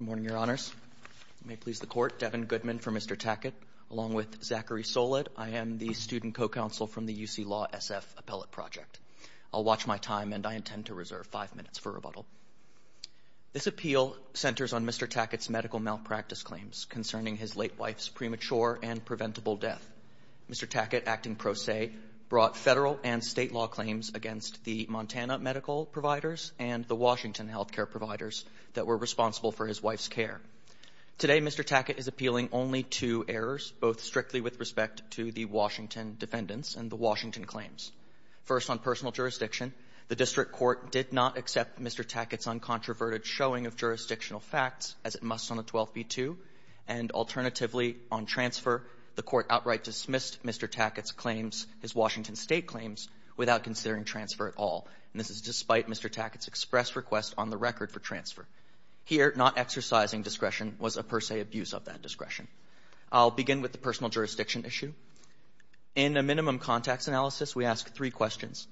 Good morning, Your Honors. May it please the Court, Devin Goodman for Mr. Tackett, along with Zachary Soled. I am the student co-counsel from the UC Law SF Appellate Project. I'll watch my time, and I intend to reserve five minutes for rebuttal. This appeal centers on Mr. Tackett's medical malpractice claims concerning his late wife's premature and preventable death. Mr. Tackett, acting pro se, brought federal and state law claims against the Montana medical providers and the Washington health care providers that were responsible for his wife's care. Today, Mr. Tackett is appealing only two errors, both strictly with respect to the Washington defendants and the Washington claims. First, on personal jurisdiction, the district court did not accept Mr. Tackett's uncontroverted showing of jurisdictional facts, as it must on a 12b-2. And alternatively, on transfer, the court outright dismissed Mr. Tackett's claims, his Washington state claims, without considering transfer at all. And this is despite Mr. Tackett's express request on the record for transfer. Here, not exercising discretion was a per se abuse of that discretion. I'll begin with the personal jurisdiction issue. In a minimum contacts analysis, we ask three questions.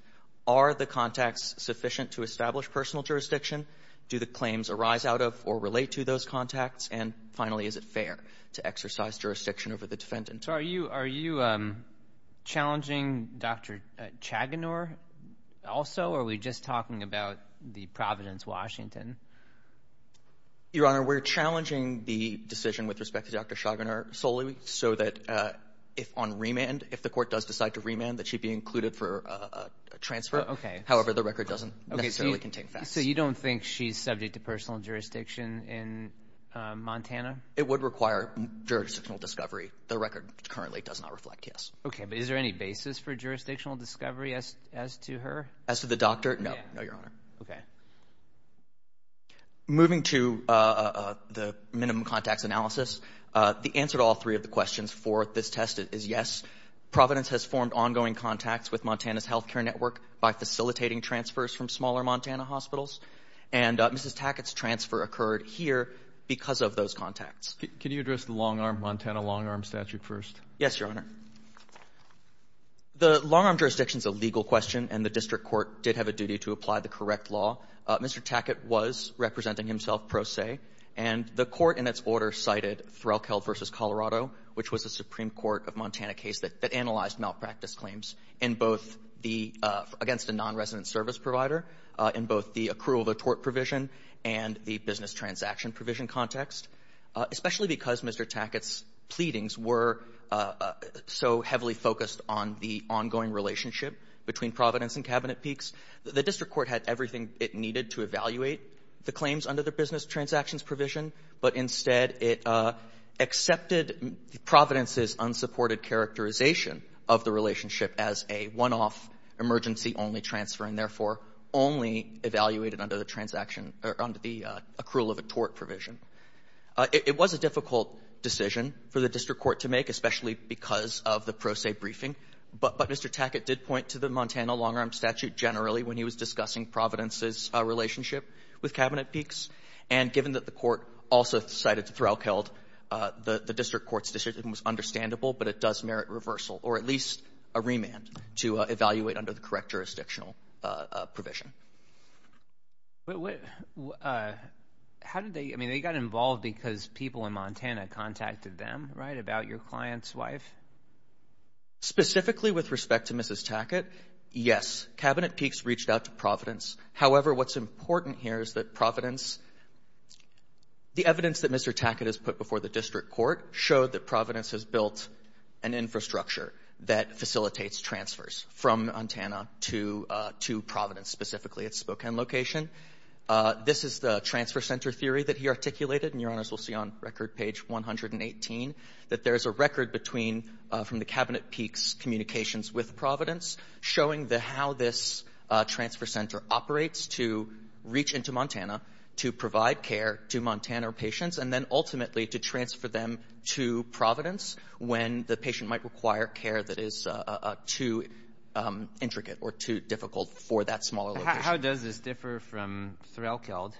Are the contacts sufficient to establish personal jurisdiction? Do the claims arise out of or relate to those contacts? And finally, is it fair to exercise jurisdiction over the defendant? So are you challenging Dr. Chaginor also, or are we just talking about the Providence, Washington? Your Honor, we're challenging the decision with respect to Dr. Chaginor solely so that if on remand, if the court does decide to remand, that she be included for a transfer. Okay. However, the record doesn't necessarily contain facts. So you don't think she's subject to personal jurisdiction in Montana? It would require jurisdictional discovery. The record currently does not reflect, yes. Okay. But is there any basis for jurisdictional discovery as to her? As to the doctor? No. No, Your Honor. Okay. Moving to the minimum contacts analysis, the answer to all three of the questions for this test is yes. Providence has formed ongoing contacts with Montana's health care network by facilitating transfers from smaller Montana hospitals. And Mrs. Tackett's transfer occurred here because of those contacts. Can you address the long-arm Montana long-arm statute first? Yes, Your Honor. The long-arm jurisdiction is a legal question, and the district court did have a duty to apply the correct law. Mr. Tackett was representing himself pro se, and the court in its order cited Threlkeld v. Colorado, which was a Supreme Court of Montana case that analyzed malpractice claims in both the — against a nonresident service provider in both the accrual of a tort provision and the business transaction provision context, especially because Mr. Tackett's pleadings were so heavily focused on the ongoing relationship between Providence and Cabinet Peaks. The district court had everything it needed to evaluate the claims under the business transactions provision, but instead it accepted Providence's unsupported characterization of the relationship as a one-off, emergency-only transfer, and therefore only evaluated under the transaction or under the accrual of a tort provision. It was a difficult decision for the district court to make, especially because of the pro se briefing. But Mr. Tackett did point to the Montana long-arm statute generally when he was discussing Providence's relationship with Cabinet Peaks. And given that the court also cited Threlkeld, the district court's decision was understandable, but it does merit reversal or at least a remand to evaluate under the correct jurisdictional provision. But what — how did they — I mean, they got involved because people in Montana contacted them, right, about your client's wife? Specifically with respect to Mrs. Tackett, yes, Cabinet Peaks reached out to Providence. However, what's important here is that Providence — the evidence that Mr. Tackett has put before the district court showed that Providence has built an infrastructure that facilitates transfers from Montana to — to Providence, specifically its Spokane location. This is the transfer center theory that he articulated, and Your Honors will see on record page 118, that there is a record between — from the Cabinet Peaks' communications with Providence showing the — how this transfer center operates to reach into Montana, to provide care to Montana patients, and then ultimately to transfer them to Providence when the patient might require care that is too intricate or too difficult for that smaller location. How does this differ from Threlkeld?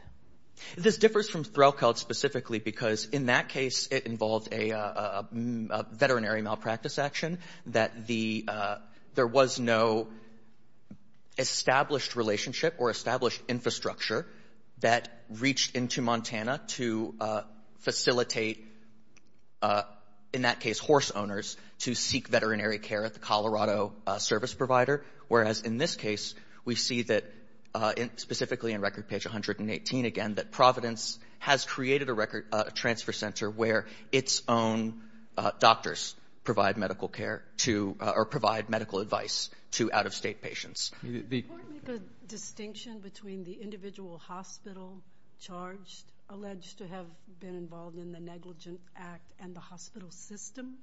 This differs from Threlkeld specifically because in that case it involved a veterinary malpractice action, that the — there was no established relationship or established infrastructure that reached into Montana to facilitate, in that case horse owners, to seek veterinary care at the Colorado service provider, whereas in this case we see that — specifically in record page 118, again, that Providence has created a record transfer center where its own doctors provide medical care to — or provide medical advice to out-of-state patients. Did the court make a distinction between the individual hospital charged alleged to have been involved in the negligent act and the hospital system?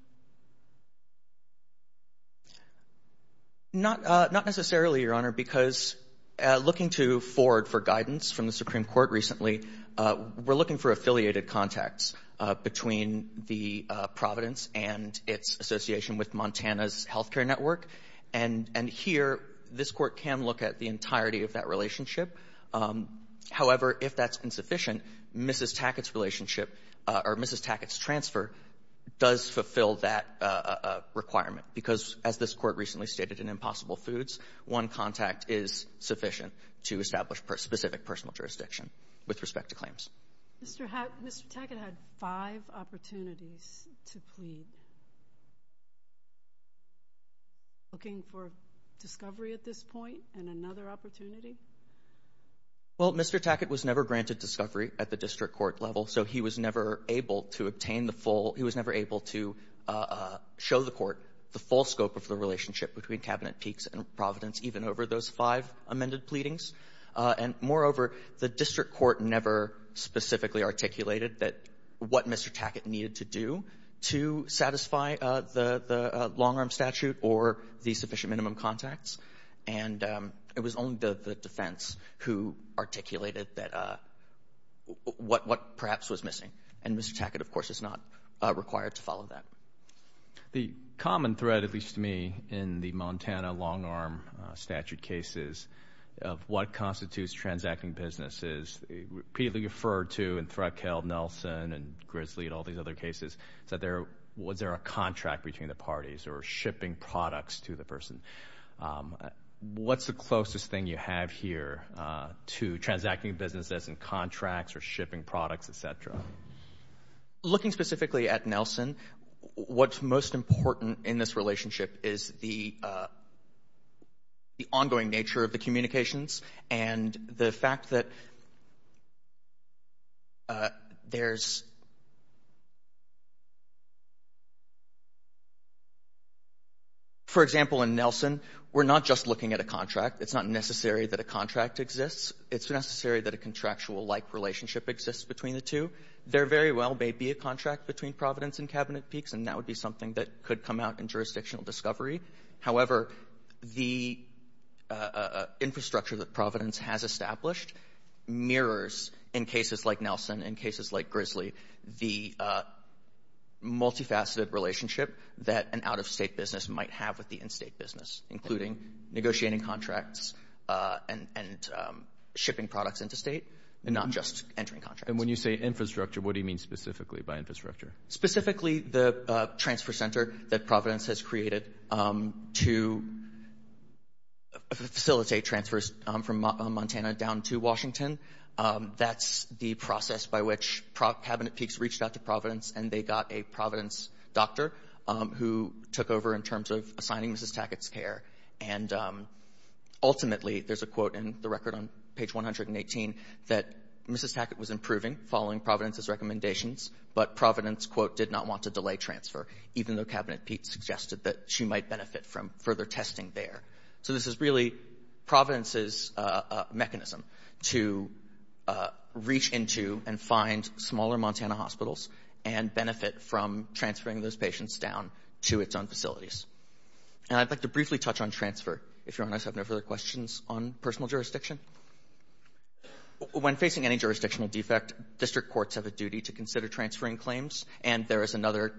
Not necessarily, Your Honor, because looking to Ford for guidance from the Supreme Court recently, we're looking for affiliated contacts between the Providence and its association with Montana's healthcare network. And here this court can look at the entirety of that relationship. However, if that's insufficient, Mrs. Tackett's relationship — or Mrs. Tackett's transfer does fulfill that requirement, because as this court recently stated in Impossible Foods, one contact is sufficient to make a distinction with respect to claims. Mr. Tackett had five opportunities to plead. Looking for discovery at this point and another opportunity? Well, Mr. Tackett was never granted discovery at the district court level, so he was never able to obtain the full — he was never able to show the court the full scope of the case. The district court never specifically articulated that — what Mr. Tackett needed to do to satisfy the long-arm statute or the sufficient minimum contacts. And it was only the defense who articulated that — what perhaps was missing. And Mr. Tackett, of course, is not required to follow that. The common thread, at least to me, in the Montana long-arm statute cases of what is repeatedly referred to in Threadkill, Nelson, and Grizzly and all these other cases, is that there — was there a contract between the parties or shipping products to the person? What's the closest thing you have here to transacting businesses and contracts or shipping products, et cetera? Looking specifically at Nelson, what's most important in this relationship is the — there's — for example, in Nelson, we're not just looking at a contract. It's not necessary that a contract exists. It's necessary that a contractual-like relationship exists between the two. There very well may be a contract between Providence and Cabinet Peaks, and that would be something that could come out in jurisdictional discovery. However, the infrastructure that Providence has established mirrors, in cases like Nelson, in cases like Grizzly, the multifaceted relationship that an out-of-state business might have with the in-state business, including negotiating contracts and shipping products into state and not just entering contracts. And when you say infrastructure, what do you mean specifically by infrastructure? Specifically the transfer center that Providence has created to facilitate transfers from Montana down to Washington. That's the process by which Cabinet Peaks reached out to Providence, and they got a Providence doctor who took over in terms of assigning Mrs. Tackett's care. And ultimately — there's a quote in the record on page 118 — that Mrs. Tackett was improving following Providence's recommendations, but Providence, quote, did not want to delay transfer, even though Cabinet Peaks suggested that she might benefit from further testing there. So this is really Providence's mechanism to reach into and find smaller Montana hospitals and benefit from transferring those patients down to its own facilities. And I'd like to briefly touch on transfer, if Your Honor has no further questions on personal jurisdiction. When facing any jurisdictional defect, district courts have a duty to consider transferring claims, and there is another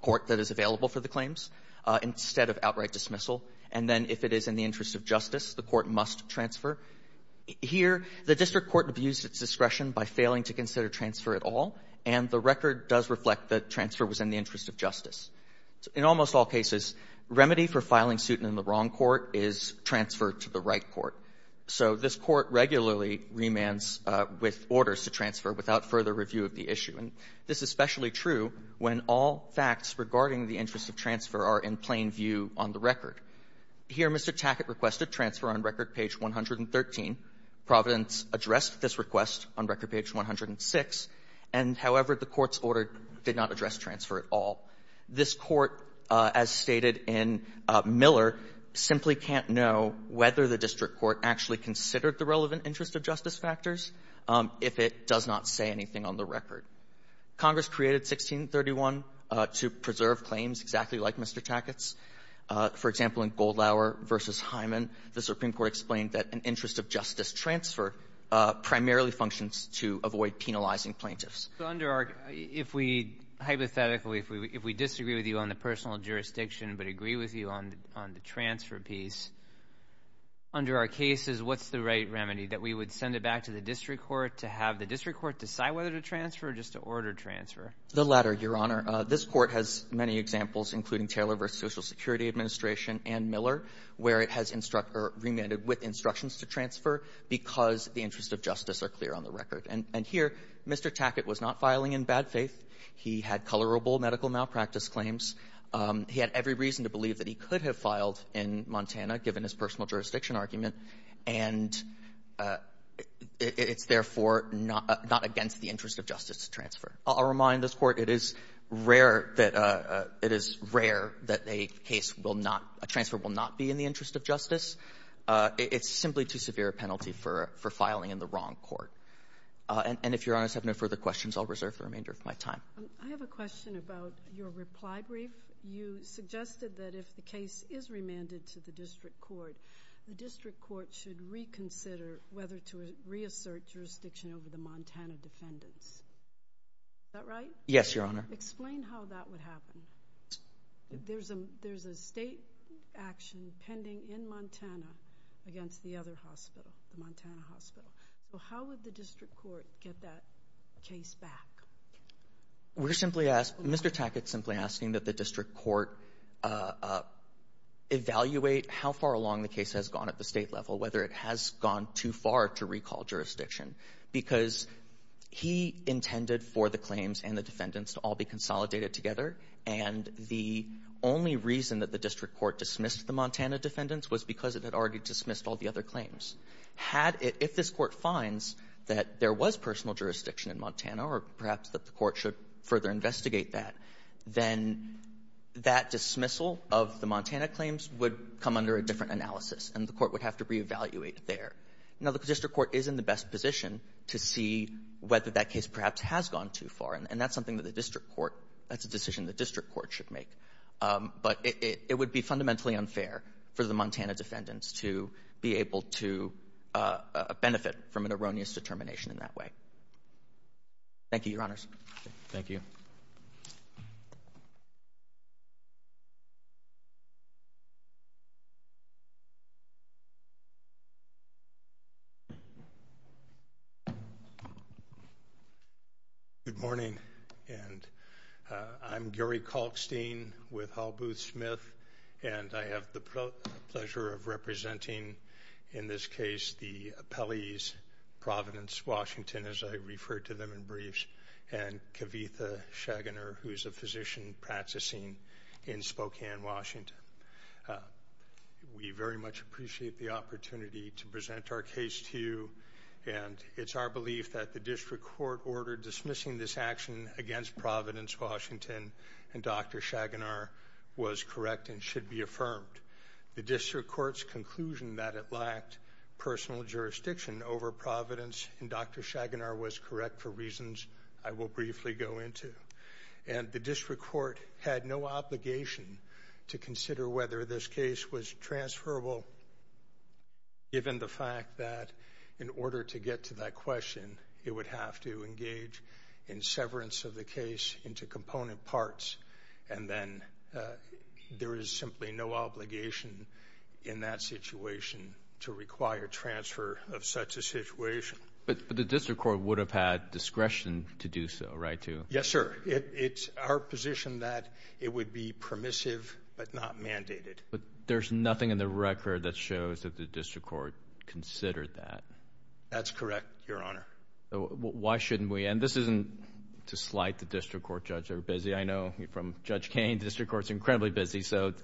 court that is available for the claims instead of outright dismissal. And then if it is in the interest of justice, the court must transfer. Here, the district court abused its discretion by failing to consider transfer at all, and the record does reflect that transfer was in the interest of justice. In almost all cases, remedy for filing suit in the wrong court is transfer to the right court. So this court regularly remands with orders to transfer without further review of the issue. And this is especially true when all facts regarding the interest of transfer are in plain view on the record. Here, Mr. Tackett requested transfer on record page 113. Providence addressed this request on record page 106. And, however, the Court's order did not address transfer at all. This Court, as stated in Miller, simply can't know whether the district court actually considered the relevant interest of justice factors if it does not say anything on the record. Congress created 1631 to preserve claims exactly like Mr. Tackett's. For example, in Goldlauer v. Hyman, the Supreme Court explained that an interest of justice transfer primarily functions to avoid penalizing plaintiffs. So under our — if we — hypothetically, if we disagree with you on the personal jurisdiction but agree with you on the transfer piece, under our cases, what's the right remedy, that we would send it back to the district court to have the district court decide whether to transfer or just to order transfer? The latter, Your Honor. This Court has many examples, including Taylor v. Social because the interests of justice are clear on the record. And here, Mr. Tackett was not filing in bad faith. He had colorable medical malpractice claims. He had every reason to believe that he could have filed in Montana, given his personal jurisdiction argument. And it's, therefore, not against the interest of justice to transfer. I'll remind this Court, it is rare that a case will not — a transfer will not be in the interest of justice. It's simply too severe a penalty for filing in the wrong court. And if Your Honors have no further questions, I'll reserve the remainder of my time. I have a question about your reply brief. You suggested that if the case is remanded to the district court, the district court should reconsider whether to reassert jurisdiction over the Montana defendants. Is that right? Yes, Your Honor. Explain how that would happen. There's a state action pending in Montana against the other hospital, the Montana hospital. So how would the district court get that case back? We're simply asking — Mr. Tackett's simply asking that the district court evaluate how far along the case has gone at the state level, whether it has gone too far to recall jurisdiction. Because he intended for the claims and the defendants to all be consolidated together, and the only reason that the district court dismissed the Montana defendants was because it had already dismissed all the other claims. Had it — if this Court finds that there was personal jurisdiction in Montana, or perhaps that the court should further investigate that, then that dismissal of the Montana claims would come under a different analysis, and the court would have to reevaluate there. Now, the district court is in the best position to see whether that case perhaps has gone too far, and that's something that the district court — that's a decision the district court should make. But it would be fundamentally unfair for the Montana defendants to be able to benefit from an erroneous determination in that way. Thank you, Your Honors. Thank you. Good morning, and I'm Gary Kalkstein with Hal Booth Smith, and I have the pleasure of representing, in this case, the appellees, Providence Washington, as I referred to them in briefs, and Kavitha Shagener, who is a physician practicing in Spokane, Washington. We very much appreciate the opportunity to present our case to you, and it's our belief that the district court order dismissing this action against Providence Washington and Dr. Shagener was correct and should be affirmed. The district court's conclusion that it lacked personal jurisdiction over Providence and Dr. Shagener was correct for reasons I will briefly go into, and the district court had no obligation to consider whether this case was transferable, given the fact that in order to get to that question, it would have to engage in severance of the case into component parts, and then there is simply no obligation in that situation to require transfer of such a situation. But the district court would have had discretion to do so, right? Yes, sir. It's our position that it would be permissive but not mandated. But there's nothing in the record that shows that the district court considered that. That's correct, Your Honor. Why shouldn't we? And this isn't to slight the district court judge. They're busy. I know from Judge Kain, the district court's incredibly busy, so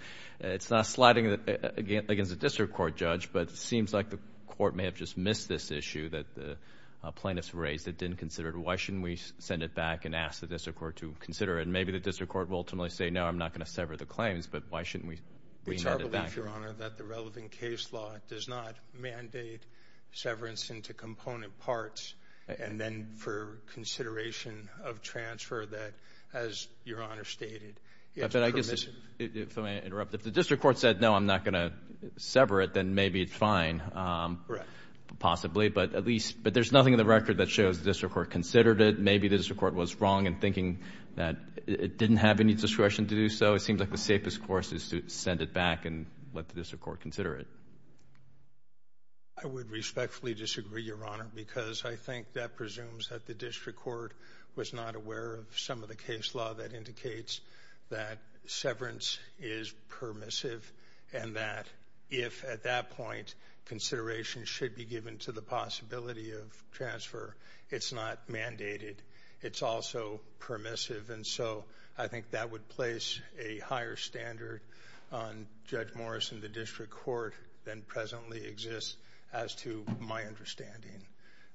it's not slighting against the district court judge, but it seems like the court may have just missed this issue that the plaintiffs raised that didn't consider it. Why shouldn't we send it back and ask the district court to consider it? Maybe the district court will ultimately say, no, I'm not going to sever the claims, but why shouldn't we bring it back? It's our belief, Your Honor, that the relevant case law does not mandate severance into component parts, and then for consideration of transfer that, as Your Honor stated, it's permissive. If I may interrupt, if the district court said, no, I'm not going to sever it, then maybe it's fine. Right. Possibly, but at least — but there's nothing in the record that shows the district court considered it. Maybe the district court was wrong in thinking that it didn't have any discretion to do so. It seems like the safest course is to send it back and let the district court consider it. I would respectfully disagree, Your Honor, because I think that presumes that the district court was not aware of some of the case law that indicates that severance is permissive and that if, at that point, consideration should be given to the possibility of transfer, it's not mandated. It's also permissive, and so I think that would place a higher standard on Judge Morris and the district court than presently exists as to my understanding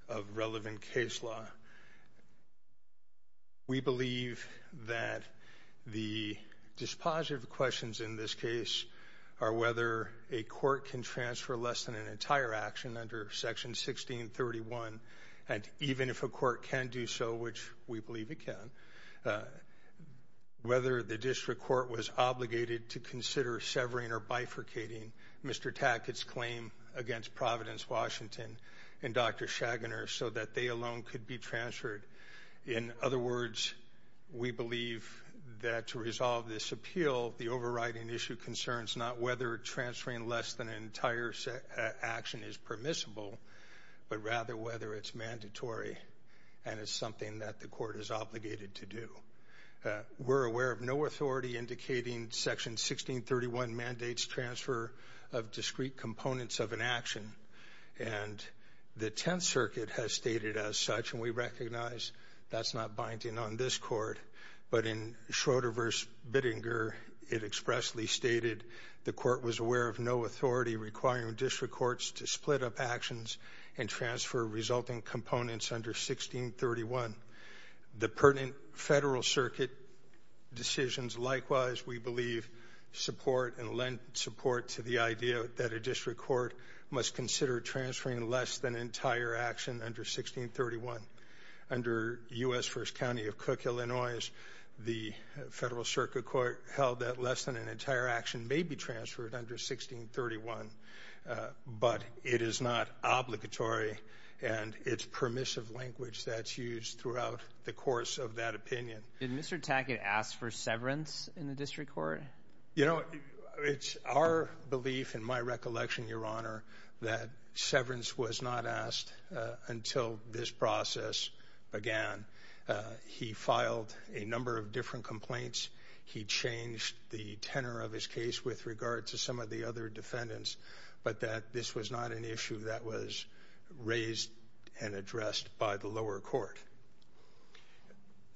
of relevant case law. We believe that the dispositive questions in this case are whether a court can transfer less than an entire action under Section 1631, and even if a court can do so, which we believe it can, whether the district court was obligated to consider severing or bifurcating Mr. Tackett's claim against Providence Washington and Dr. Shaguner so that they alone could be transferred. In other words, we believe that to resolve this appeal, the overriding issue concerns not whether transferring less than an entire action is permissible, but rather whether it's mandatory and it's something that the court is obligated to do. We're aware of no authority indicating Section 1631 mandates transfer of discrete components of an action, and the Tenth Circuit has stated as such, and we recognize that's not binding on this court, but in Schroeder v. Bittinger, it expressly stated the court was aware of no authority requiring district courts to transfer resulting components under 1631. The pertinent Federal Circuit decisions likewise, we believe, support and lend support to the idea that a district court must consider transferring less than an entire action under 1631. Under U.S. First County of Cook, Illinois, the Federal Circuit Court held that less than an entire action may be transferred under 1631, but it is not obligatory, and it's permissive language that's used throughout the course of that opinion. Did Mr. Tackett ask for severance in the district court? You know, it's our belief and my recollection, Your Honor, that severance was not asked until this process began. He filed a number of different complaints. He changed the tenor of his case with regard to some of the other defendants, but that this was not an issue that was raised and addressed by the lower court.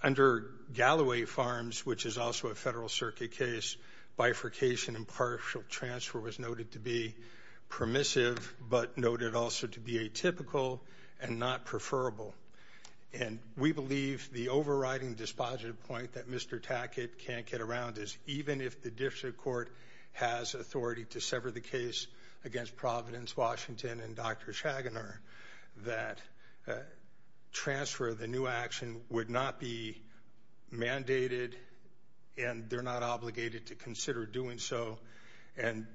Under Galloway Farms, which is also a Federal Circuit case, bifurcation and partial transfer was noted to be permissive, but noted also to be atypical and not preferable. And we believe the overriding dispositive point that Mr. Tackett can't get around is even if the district court has authority to sever the case against Providence, Washington, and Dr. Shaguner, that transfer of the new action would not be mandated and they're not obligated to consider doing so. And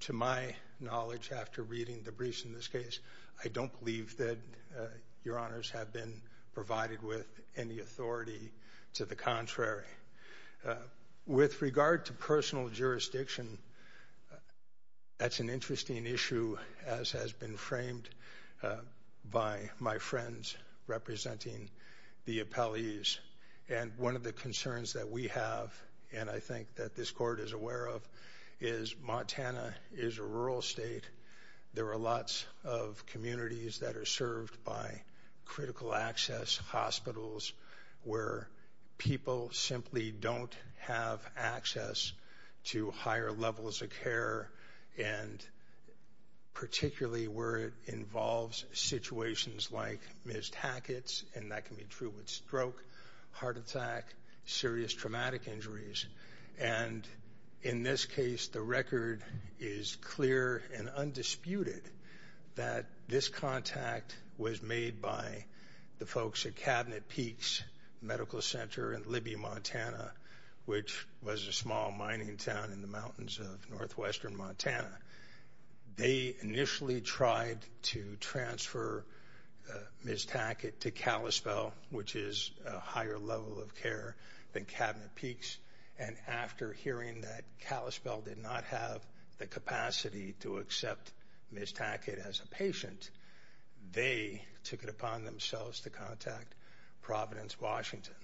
to my knowledge, after reading the briefs in this case, I don't believe that Your Honors have been provided with any authority to the contrary. With regard to personal jurisdiction, that's an interesting issue as has been framed by my friends representing the appellees. And one of the concerns that we have, and I think that this court is aware of, is Montana is a rural state. There are lots of communities that are served by critical access hospitals where people simply don't have access to higher levels of care, and particularly where it involves situations like Ms. Tackett's, and that can be true with stroke, heart attack, serious traumatic injuries. And in this case, the record is clear and undisputed that this contact was made by the folks at Cabinet Peaks Medical Center in Libby, Montana, which was a small mining town in the mountains of northwestern Montana. They initially tried to transfer Ms. Tackett to Kalispell, which is a higher level of care than Cabinet Peaks. And after hearing that Kalispell did not have the capacity to accept Ms. Tackett as a patient, they took it upon themselves to contact Providence, Washington.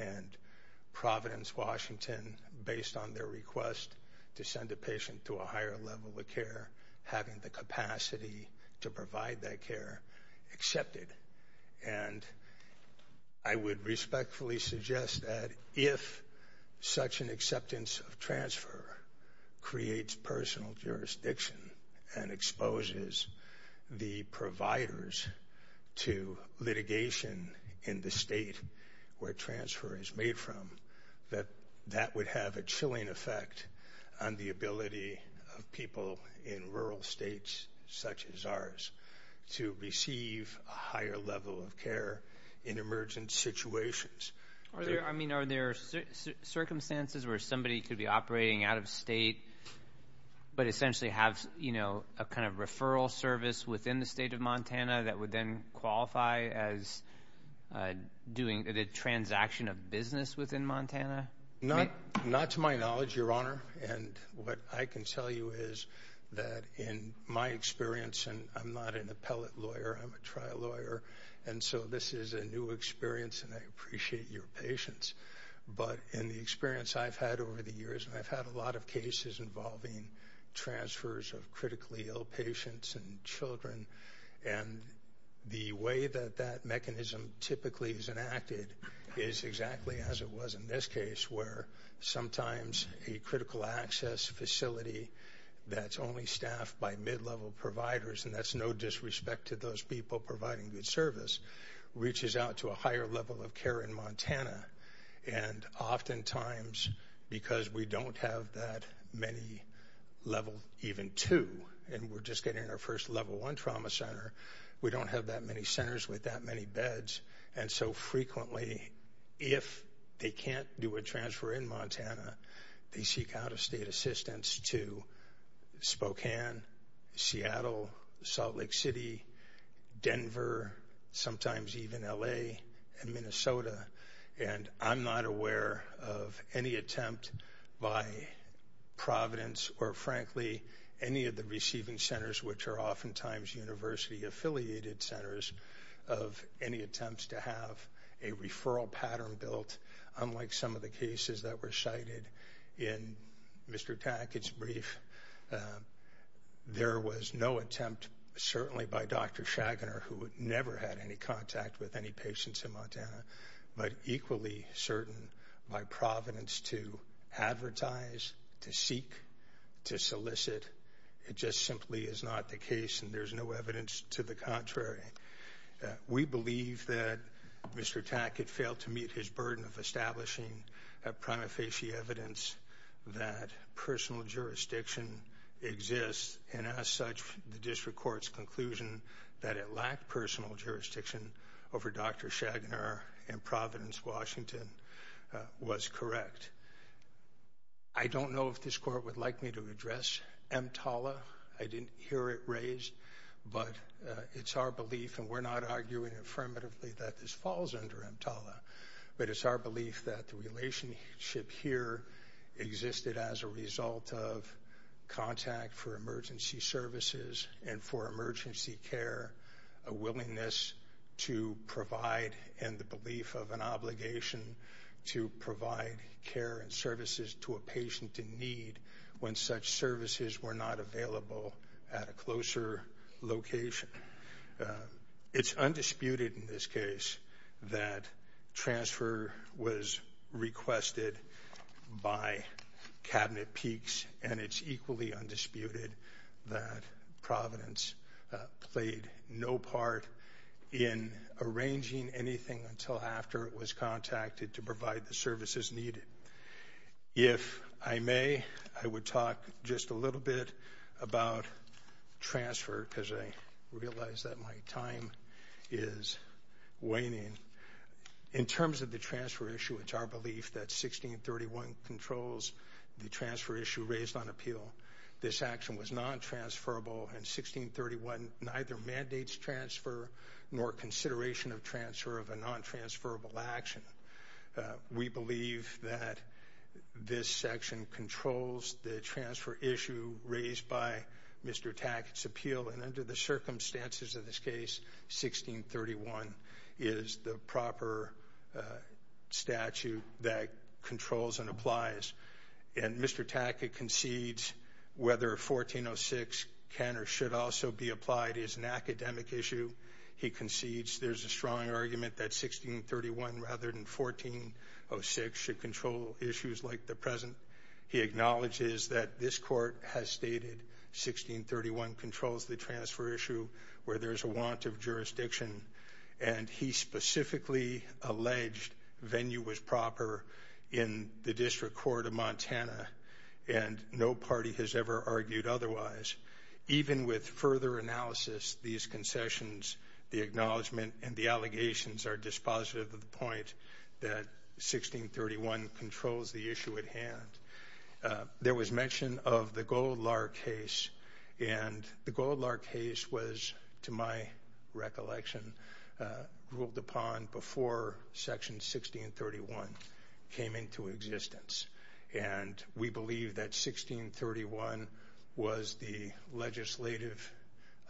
And Providence, Washington, based on their request to send a patient to a higher level of care, having the capacity to provide that care, accepted. And I would respectfully suggest that if such an acceptance of transfer creates personal jurisdiction and exposes the providers to litigation in the state where transfer is made from, that that would have a chilling effect on the ability of people in rural states such as ours to receive a higher level of care in emergent situations. Are there circumstances where somebody could be operating out of state but essentially have a kind of referral service within the state of Montana that would then qualify as doing the transaction of business within Montana? Not to my knowledge, Your Honor. And what I can tell you is that in my experience, and I'm not an appellate lawyer, I'm a trial lawyer, and so this is a new experience and I appreciate your patience. But in the experience I've had over the years, and I've had a lot of cases involving transfers of critically ill patients and children, and the way that that mechanism typically is enacted is exactly as it was in this case, where sometimes a critical access facility that's only staffed by mid-level providers, and that's no disrespect to those people providing good service, reaches out to a higher level of care in Montana. And oftentimes, because we don't have that many level even two, and we're just getting our first level one trauma center, we don't have that many centers with that many beds. And so frequently, if they can't do a transfer in Montana, they seek out-of-state assistance to Spokane, Seattle, Salt Lake City, Denver, sometimes even L.A. and Minnesota. And I'm not aware of any attempt by Providence or, frankly, any of the receiving centers, which are oftentimes university-affiliated centers, of any attempts to have a referral pattern built, unlike some of the cases that were cited in Mr. Tackett's brief. There was no attempt, certainly by Dr. Shaguner, who had never had any contact with any patients in Montana, but equally certain by Providence to advertise, to seek, to solicit. It just simply is not the case, and there's no evidence to the contrary. We believe that Mr. Tackett failed to meet his burden of establishing a prima facie evidence that personal jurisdiction exists, and as such, the district court's conclusion that it lacked personal jurisdiction over Dr. Shaguner in Providence, Washington, was correct. I don't know if this court would like me to address EMTALA. I didn't hear it raised, but it's our belief, and we're not arguing affirmatively that this falls under EMTALA, but it's our belief that the relationship here existed as a result of contact for emergency services and the belief of an obligation to provide care and services to a patient in need when such services were not available at a closer location. It's undisputed in this case that transfer was requested by Cabinet Peaks, and it's equally undisputed that Providence played no part in arranging anything until after it was contacted to provide the services needed. If I may, I would talk just a little bit about transfer because I realize that my time is waning. In terms of the transfer issue, it's our belief that 1631 controls the transfer issue raised on appeal. This action was non-transferable, and 1631 neither mandates transfer nor consideration of transfer of a non-transferable action. We believe that this section controls the transfer issue raised by Mr. Tackett's appeal, and under the circumstances of this case, 1631 is the proper statute that controls and applies. And Mr. Tackett concedes whether 1406 can or should also be applied is an academic issue. He concedes there's a strong argument that 1631 rather than 1406 should control issues like the present. He acknowledges that this court has stated 1631 controls the transfer issue where there's a want of jurisdiction, and he specifically alleged venue was proper in the District Court of Montana, and no party has ever argued otherwise. Even with further analysis, these concessions, the acknowledgement, and the allegations are dispositive of the point that 1631 controls the issue at hand. There was mention of the Goldlar case, and the Goldlar case was, to my recollection, ruled upon before Section 1631 came into existence. And we believe that 1631 was the legislative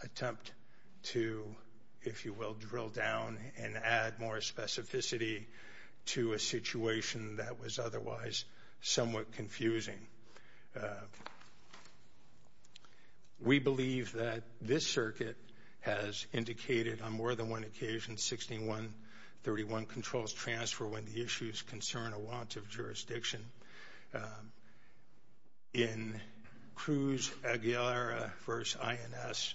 attempt to, if you will, drill down and add more specificity to a situation that was otherwise somewhat confusing. We believe that this circuit has indicated on more than one occasion that 1631 controls transfer when the issues concern a want of jurisdiction. In Cruz Aguilera v. INS,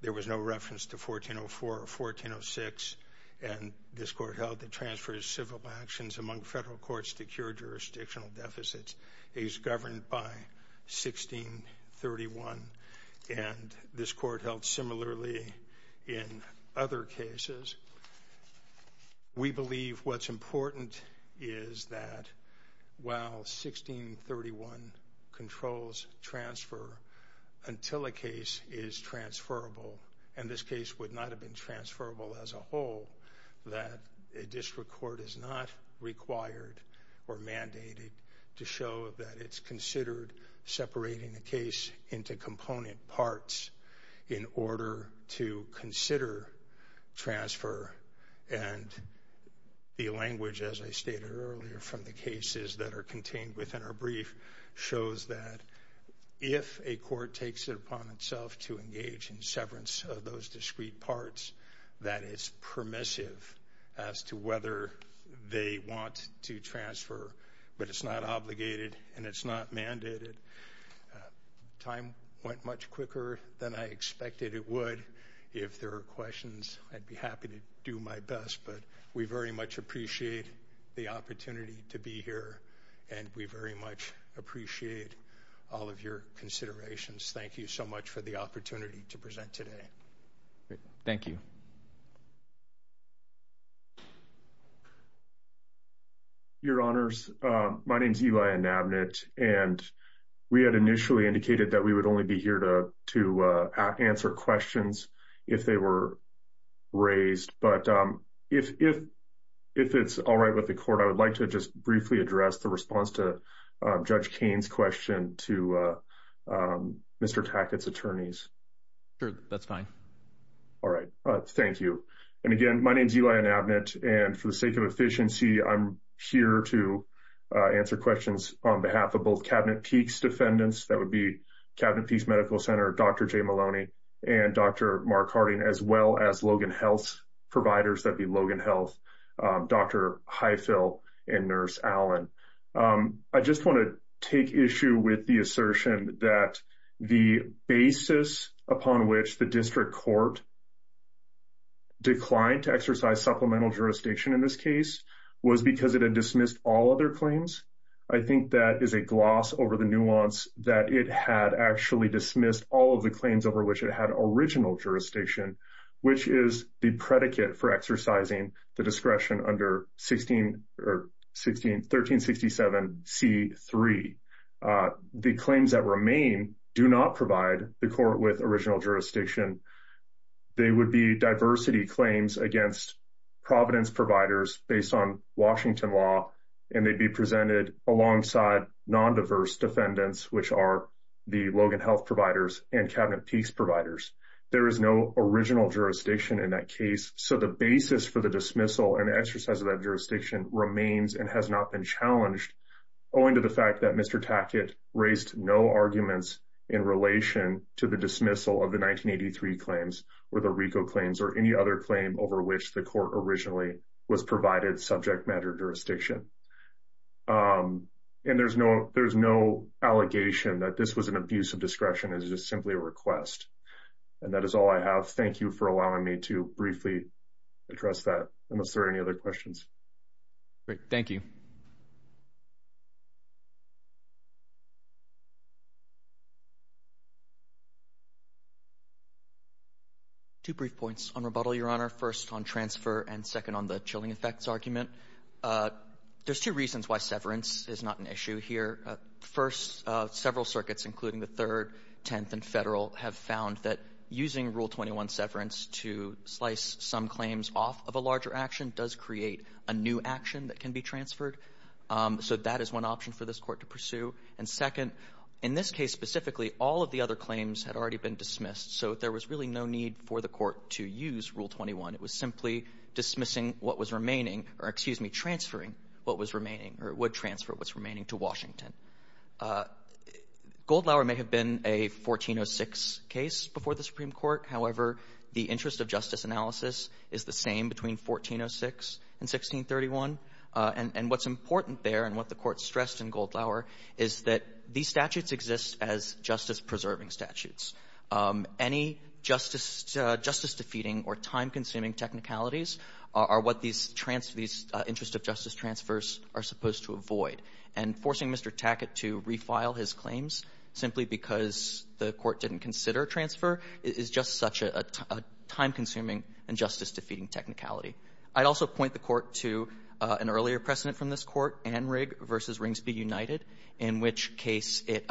there was no reference to 1404 or 1406, and this court held the transfer is civil actions among federal courts to cure jurisdictional deficits. He's governed by 1631, and this court held similarly in other cases. We believe what's important is that while 1631 controls transfer until a case is transferable, and this case would not have been transferable as a whole, that a district court is not required or mandated to show that it's considered separating a case into component parts in order to consider transfer. And the language, as I stated earlier, from the cases that are contained within our brief shows that if a court takes it upon itself to engage in severance of those discrete parts, that it's permissive as to whether they want to transfer. But it's not obligated, and it's not mandated. Time went much quicker than I expected it would. If there are questions, I'd be happy to do my best, but we very much appreciate the opportunity to be here, and we very much appreciate all of your considerations. Thank you so much for the opportunity to present today. Thank you. Your Honors, my name is Eli Anabnit, and we had initially indicated that we would only be here to answer questions if they were raised. But if it's all right with the court, I would like to just briefly address the response to Judge Cain's question to Mr. Tackett's attorneys. That's fine. All right. Thank you. And again, my name is Eli Anabnit, and for the sake of efficiency, I'm here to answer questions on behalf of both Cabinet Peaks defendants, that would be Cabinet Peaks Medical Center, Dr. Jay Maloney, and Dr. Mark Harding, as well as Logan Health providers, that'd be Logan Health, Dr. Highfill, and Nurse Allen. I just want to take issue with the assertion that the basis upon which the district court declined to exercise supplemental jurisdiction in this case was because it had dismissed all other claims. I think that is a gloss over the nuance that it had actually dismissed all of the claims over which it had original jurisdiction, which is the predicate for exercising the discretion under 1367C3. The claims that remain do not provide the court with original jurisdiction. They would be diversity claims against Providence providers based on Washington law, and they'd be presented alongside non-diverse defendants, which are the Logan Health providers and Cabinet Peaks providers. There is no original jurisdiction in that case. So the basis for the dismissal and exercise of that jurisdiction remains and has not been challenged, owing to the fact that Mr. Tackett raised no arguments in relation to the dismissal of the 1983 claims, or the RICO claims, or any other claim over which the court originally was provided subject matter jurisdiction. And there's no allegation that this was an abuse of discretion. It was just simply a request. And that is all I have. Thank you for allowing me to briefly address that, unless there are any other questions. Great. Thank you. Two brief points on rebuttal, Your Honor. First, on transfer, and second, on the chilling effects argument. There's two reasons why severance is not an issue here. First, several circuits, including the Third, Tenth, and Federal, have found that using Rule 21 severance to slice some claims off of a larger action does create a new action that can be transferred. So that is one option for this Court to pursue. And second, in this case specifically, all of the other claims had already been dismissed, so there was really no need for the Court to use Rule 21. It was simply dismissing what was remaining or, excuse me, transferring what was remaining or would transfer what's remaining to Washington. Goldlauer may have been a 1406 case before the Supreme Court. However, the interest of justice analysis is the same between 1406 and 1631. And what's important there and what the Court stressed in Goldlauer is that these any justice defeating or time-consuming technicalities are what these interest of justice transfers are supposed to avoid. And forcing Mr. Tackett to refile his claims simply because the Court didn't consider a transfer is just such a time-consuming and justice-defeating technicality. I'd also point the Court to an earlier precedent from this Court, Anrig v. Ringsby United, in which case it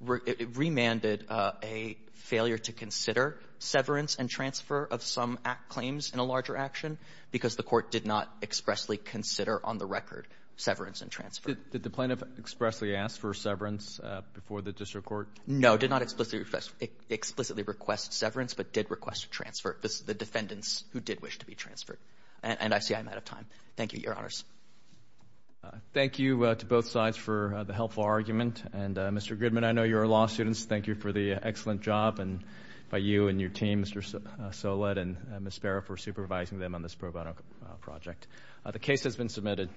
remanded a failure to consider severance and transfer of some claims in a larger action because the Court did not expressly consider on the record severance and transfer. Did the plaintiff expressly ask for severance before the district court? No, did not explicitly request severance, but did request a transfer. This is the defendants who did wish to be transferred. And I see I'm out of time. Thank you, Your Honors. Thank you to both sides for the helpful argument. And Mr. Goodman, I know you're law students. Thank you for the excellent job by you and your team, Mr. Soled and Ms. Sparrow, for supervising them on this pro bono project. The case has been submitted.